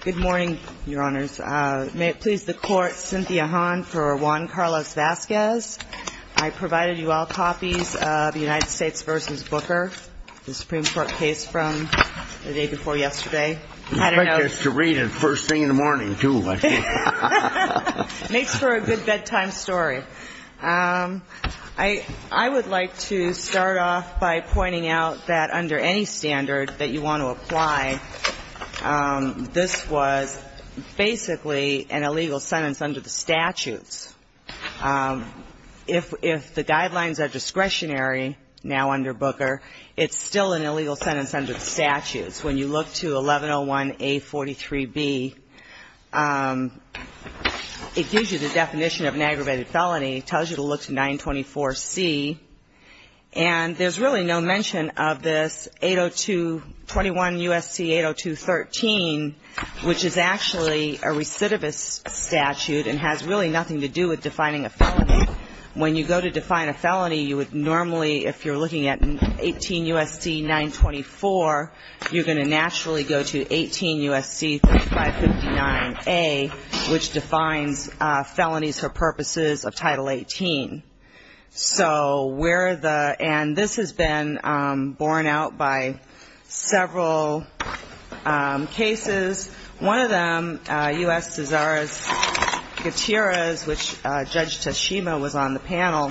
Good morning, Your Honors. May it please the Court, Cynthia Hahn for Juan Carlos Vasquez. I provided you all copies of the United States v. Booker, the Supreme Court case from the day before yesterday. I expect us to read it first thing in the morning, too, I think. Makes for a good bedtime story. I would like to start off by pointing out that under any standard that you want to apply, this was basically an illegal sentence under the statutes. If the guidelines are discretionary now under Booker, it's still an illegal sentence under the statutes. When you look to 1101A43B, it gives you the definition of an aggravated felony, tells you to look to 924C, and there's really no mention of this 80221 U.S.C. 80213, which is actually a recidivist statute and has really nothing to do with defining a felony. When you go to define a felony, you would normally, if you're looking at 18 U.S.C. 924, you're going to naturally go to 18 U.S.C. 3559A, which defines felonies for purposes of Title 18. So where the end, this has been borne out by several cases. One of them, U.S. Cesar's Gutierrez, which Judge Tashima was on the panel,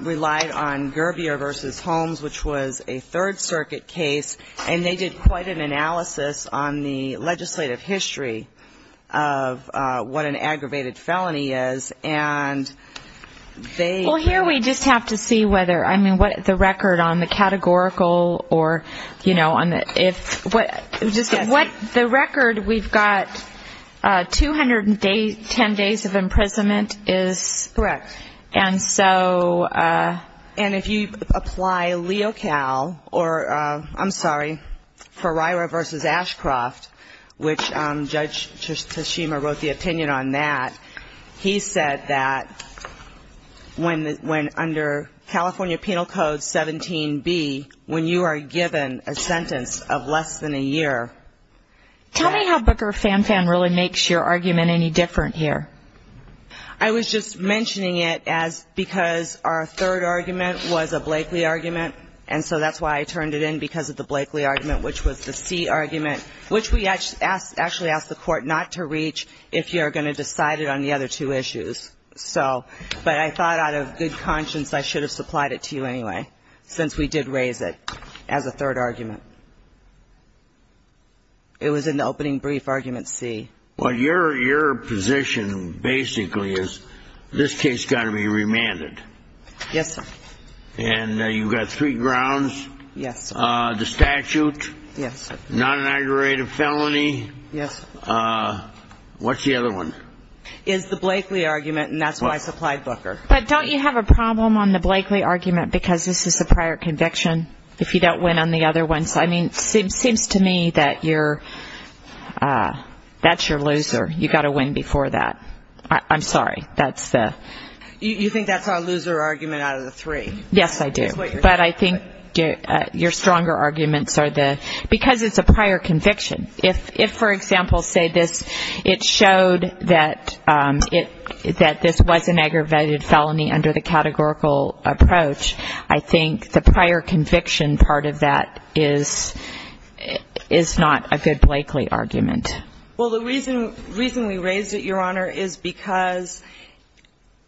relied on Gerbier v. Holmes, which was a Third Circuit case, and they did quite an analysis on the legislative history of what an aggravated felony is, and they --. Well, here we just have to see whether, I mean, what the record on the categorical or, you know, on the, if, just what the record, we've got 210 days of imprisonment is. Correct. And so --. And if you apply LeoCal or, I'm sorry, Ferreira v. Ashcroft, which Judge Tashima wrote the opinion on that, he said that when under California Penal Code 17B, when you are given a sentence of less than a year. Tell me how Booker Fanfan really makes your argument any different here. I was just mentioning it as because our third argument was a Blakely argument, and so that's why I turned it in, because of the Blakely argument, which was the C argument, which we actually asked the Court not to reach if you're going to decide it on the other two issues. So, but I thought out of good conscience I should have supplied it to you anyway, since we did raise it as a third argument. It was in the opening brief argument C. Well, your position basically is this case has got to be remanded. Yes, sir. And you've got three grounds. Yes, sir. The statute. Yes, sir. Not an aggravated felony. Yes, sir. What's the other one? It's the Blakely argument, and that's why I supplied Booker. But don't you have a problem on the Blakely argument because this is the prior conviction? If you don't win on the other ones. I mean, it seems to me that you're, that's your loser. You've got to win before that. I'm sorry. That's the. You think that's our loser argument out of the three. Yes, I do. But I think your stronger arguments are the, because it's a prior conviction. If, for example, say this, it showed that this was an aggravated felony under the categorical approach, I think the prior conviction part of that is not a good Blakely argument. Well, the reason we raised it, Your Honor, is because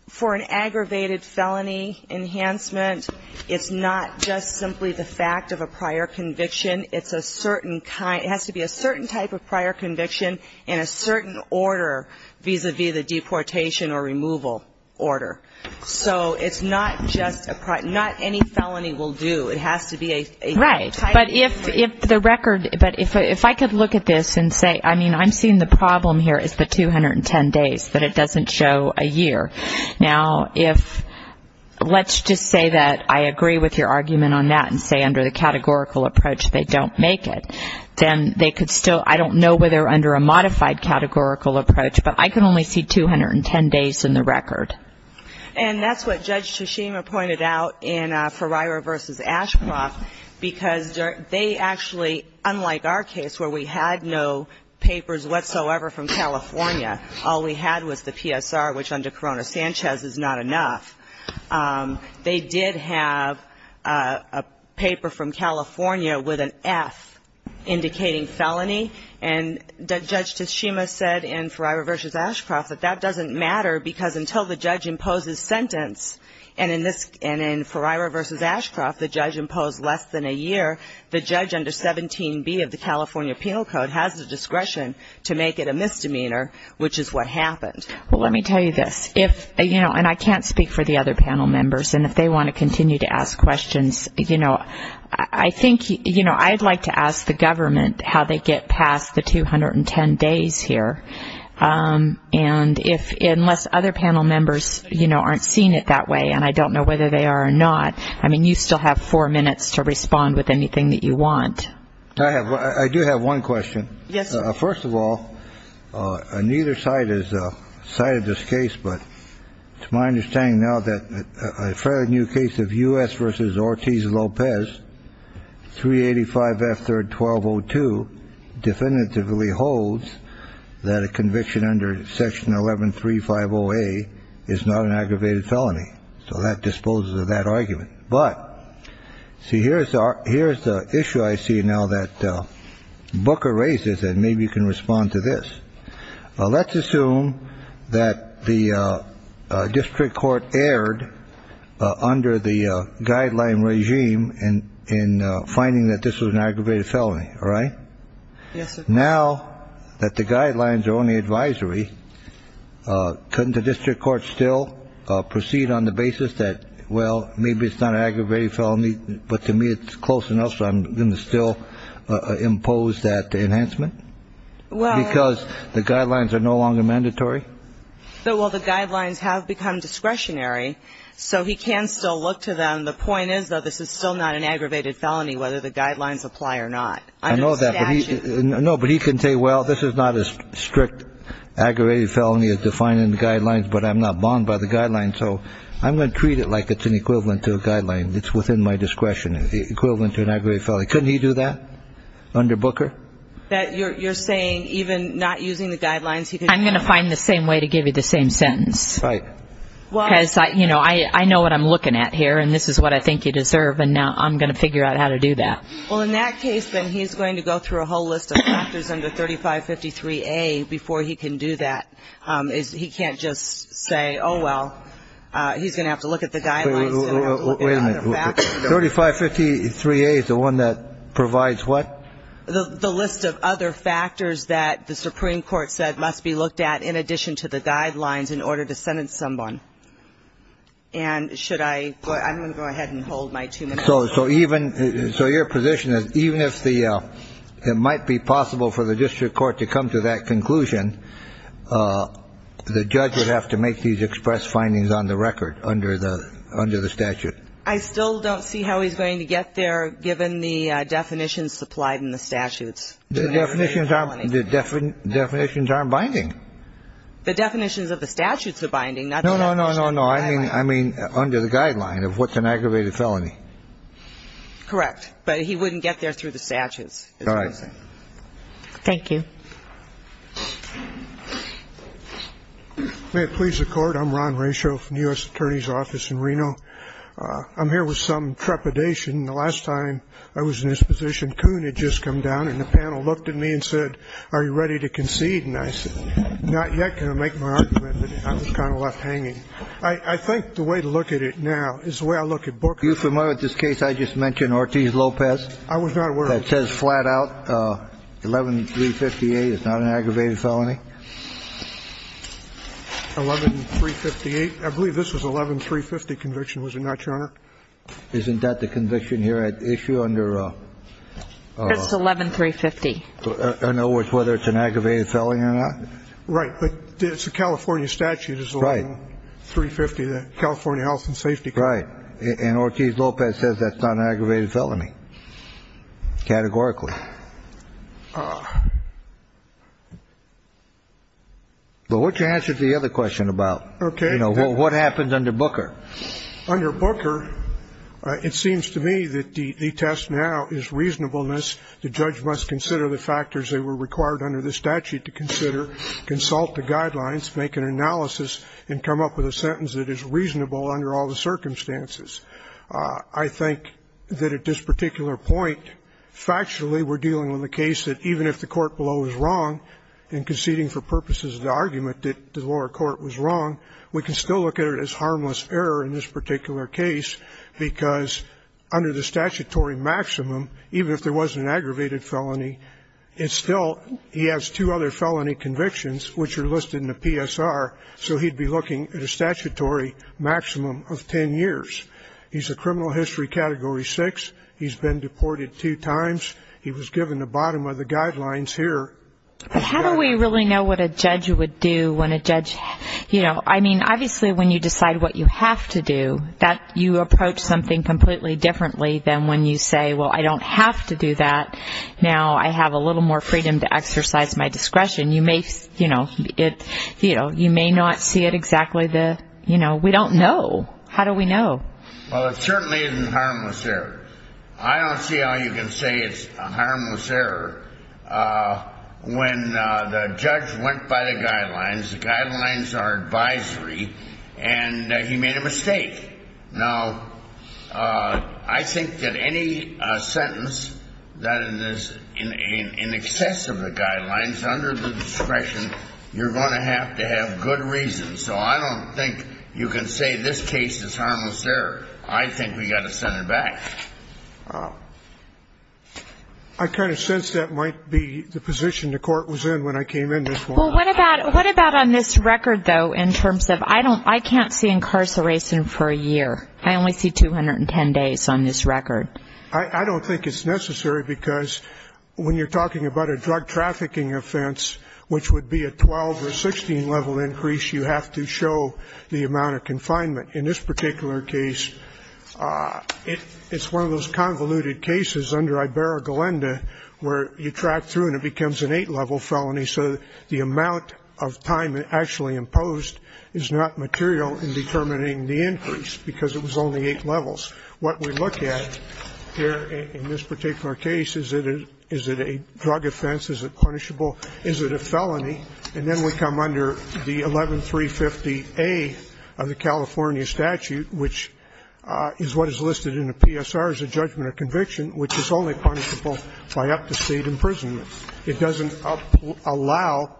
for an aggravated felony enhancement, it's not just simply the fact of a prior conviction. It's a certain, it has to be a certain type of prior conviction in a certain order vis-à-vis the deportation or removal order. So it's not just a prior, not any felony will do. It has to be a. Right. But if the record, but if I could look at this and say, I mean, I'm seeing the problem here is the 210 days, that it doesn't show a year. Now, if, let's just say that I agree with your argument on that and say under the categorical approach they don't make it, then they could still, I don't know whether under a modified categorical approach, but I can only see 210 days in the record. And that's what Judge Tshishima pointed out in Ferrara v. Ashcroft, because they actually, unlike our case where we had no papers whatsoever from California, all we had was the PSR, which under Corona-Sanchez is not enough. They did have a paper from California with an F indicating felony, and Judge Tshishima said in Ferrara v. Ashcroft that that doesn't matter, because until the judge imposes sentence, and in Ferrara v. Ashcroft the judge imposed less than a year, the judge under 17B of the California Penal Code has the discretion to make it a misdemeanor, which is what happened. Well, let me tell you this. If, you know, and I can't speak for the other panel members, and if they want to continue to ask questions, you know, I think, you know, I'd like to ask the government how they get past the 210 days here. And unless other panel members, you know, aren't seeing it that way, and I don't know whether they are or not, I mean, you still have four minutes to respond with anything that you want. I do have one question. Yes, sir. First of all, neither side has cited this case, but it's my understanding now that a fairly new case of U.S. v. Ortiz-Lopez, 385F third 1202, definitively holds that a conviction under Section 11350A is not an aggravated felony. So that disposes of that argument. But see, here's the issue I see now that Booker raises, and maybe you can respond to this. Let's assume that the district court erred under the guideline regime in finding that this was an aggravated felony. All right? Yes, sir. Now that the guidelines are only advisory, couldn't the district court still proceed on the basis that, well, maybe it's not an aggravated felony, but to me it's close enough, so I'm going to still impose that enhancement? Because the guidelines are no longer mandatory? Well, the guidelines have become discretionary, so he can still look to them. The point is, though, this is still not an aggravated felony, whether the guidelines apply or not. I know that, but he can say, well, this is not as strict aggravated felony as defined in the guidelines, but I'm not bound by the guidelines, so I'm going to treat it like it's an equivalent to a guideline. It's within my discretion, equivalent to an aggravated felony. Couldn't he do that under Booker? You're saying even not using the guidelines, he could do that? I'm going to find the same way to give you the same sentence. Right. Because, you know, I know what I'm looking at here, and this is what I think you deserve, and now I'm going to figure out how to do that. Well, in that case, then he's going to go through a whole list of factors under 3553A before he can do that. He can't just say, oh, well, he's going to have to look at the guidelines. Wait a minute. 3553A is the one that provides what? The list of other factors that the Supreme Court said must be looked at in addition to the guidelines in order to sentence someone. And should I go ahead and hold my two minutes? So your position is even if it might be possible for the district court to come to that conclusion, the judge would have to make these express findings on the record under the statute. I still don't see how he's going to get there given the definitions supplied in the statutes. The definitions aren't binding. The definitions of the statutes are binding. No, no, no, no, no. I mean under the guideline of what's an aggravated felony. Correct. But he wouldn't get there through the statutes. All right. Thank you. May it please the Court. I'm Ron Ratio from the U.S. Attorney's Office in Reno. I'm here with some trepidation. The last time I was in this position, Coon had just come down and the panel looked at me and said, are you ready to concede? And I said, not yet. Can I make my argument? I was kind of left hanging. I think the way to look at it now is the way I look at Booker. Are you familiar with this case I just mentioned, Ortiz-Lopez? I was not aware of it. It says flat out 11358 is not an aggravated felony. 11358. I believe this was 11350 conviction, was it not, Your Honor? Isn't that the conviction here at issue under? It's 11350. In other words, whether it's an aggravated felony or not? Right. It's a California statute. Right. It's 11350, the California Health and Safety Code. Right. And Ortiz-Lopez says that's not an aggravated felony categorically. But what's your answer to the other question about, you know, what happens under Booker? Under Booker, it seems to me that the test now is reasonableness. The judge must consider the factors that were required under the statute to consider, consult the guidelines, make an analysis, and come up with a sentence that is reasonable under all the circumstances. I think that at this particular point, factually we're dealing with a case that even if the court below is wrong and conceding for purposes of the argument that the lower court was wrong, we can still look at it as harmless error in this particular case, because under the statutory maximum, even if there was an aggravated felony, it's still he has two other felony convictions which are listed in the PSR, so he'd be looking at a statutory maximum of ten years. He's a criminal history category six. He's been deported two times. He was given the bottom of the guidelines here. But how do we really know what a judge would do when a judge, you know, I mean, obviously when you decide what you have to do, you approach something completely differently than when you say, well, I don't have to do that. Now I have a little more freedom to exercise my discretion. You may, you know, you may not see it exactly the, you know, we don't know. How do we know? Well, it certainly isn't harmless error. I don't see how you can say it's a harmless error when the judge went by the guidelines, the guidelines are advisory, and he made a mistake. Now, I think that any sentence that is in excess of the guidelines under the discretion, you're going to have to have good reason. So I don't think you can say this case is harmless error. I think we've got to send it back. I kind of sense that might be the position the Court was in when I came in this morning. Well, what about on this record, though, in terms of I don't, I can't see incarceration for a year. I only see 210 days on this record. I don't think it's necessary, because when you're talking about a drug trafficking offense, which would be a 12 or 16 level increase, you have to show the amount of confinement. In this particular case, it's one of those convoluted cases under Ibarra-Galenda where you track through and it becomes an 8-level felony, so the amount of time actually imposed is not material in determining the increase, because it was only 8 levels. What we look at here in this particular case, is it a drug offense, is it punishable, is it a felony, and then we come under the 11350A of the California statute, which is what is listed in the PSR as a judgment of conviction, which is only punishable by up-to-state imprisonment. It doesn't allow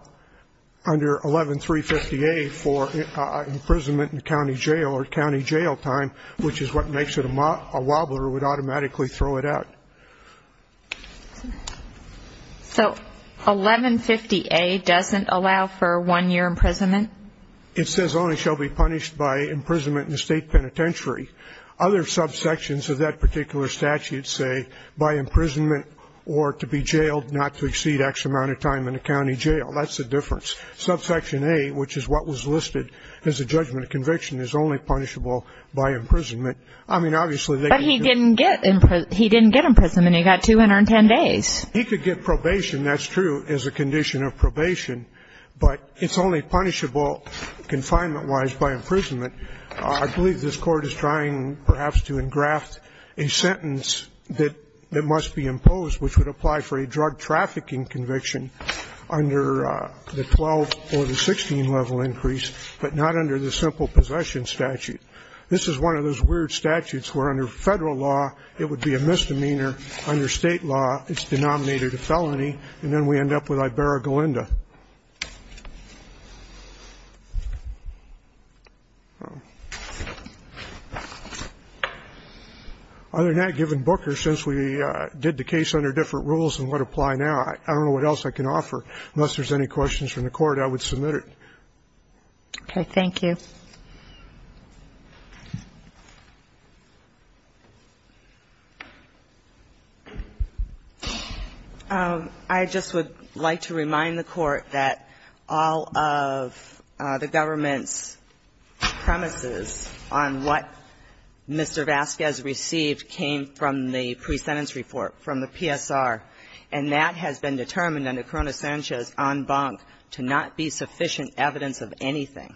under 11350A for imprisonment in county jail or county jail time, which is what makes it a wobbler. It would automatically throw it out. So 1150A doesn't allow for one-year imprisonment? It says only shall be punished by imprisonment in a state penitentiary. Other subsections of that particular statute say by imprisonment or to be jailed not to exceed X amount of time in a county jail. That's the difference. Subsection A, which is what was listed as a judgment of conviction, is only punishable by imprisonment. I mean, obviously, they could do it. But he didn't get imprisonment. He got 210 days. He could get probation, that's true, as a condition of probation, but it's only punishable confinement-wise by imprisonment. I believe this Court is trying, perhaps, to engraft a sentence that must be imposed, which would apply for a drug trafficking conviction under the 12 or the 16-level increase, but not under the simple possession statute. This is one of those weird statutes where under Federal law it would be a misdemeanor, under State law it's denominated a felony, and then we end up with Ibarra-Galinda. Other than that, given Booker, since we did the case under different rules and what apply now, I don't know what else I can offer. Unless there's any questions from the Court, I would submit it. Okay. Thank you. I just would like to remind the Court that all of the government's premises on what Mr. Vasquez received came from the pre-sentence report from the PSR, and that has been determined under Corona-Sanchez en banc to not be sufficient evidence of anything.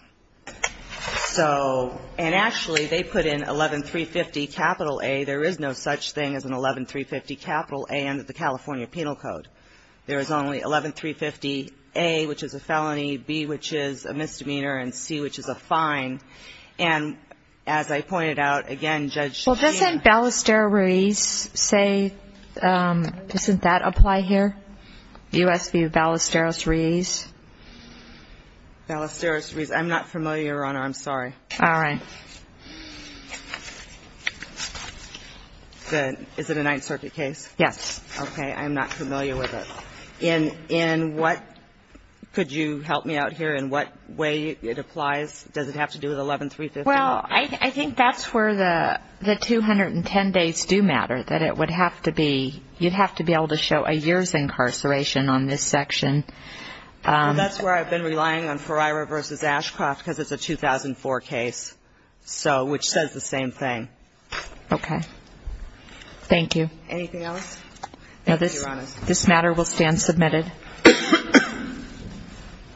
So, and actually, they put in 11-350-A. There is no such thing as an 11-350-A under the California Penal Code. There is only 11-350-A, which is a felony, B, which is a misdemeanor, and C, which is a fine. And as I pointed out, again, Judge Jean ---- Well, doesn't Ballesteros-Ruiz say, doesn't that apply here, U.S. v. Ballesteros-Ruiz? Ballesteros-Ruiz. I'm not familiar, Your Honor. I'm sorry. All right. Is it a Ninth Circuit case? Yes. Okay. I'm not familiar with it. In what ---- Could you help me out here in what way it applies? Does it have to do with 11-350-A? Well, I think that's where the 210 days do matter, that it would have to be ---- That's where I've been relying on Ferreira v. Ashcroft because it's a 2004 case, so, which says the same thing. Okay. Thank you. Anything else? No, this matter will stand submitted.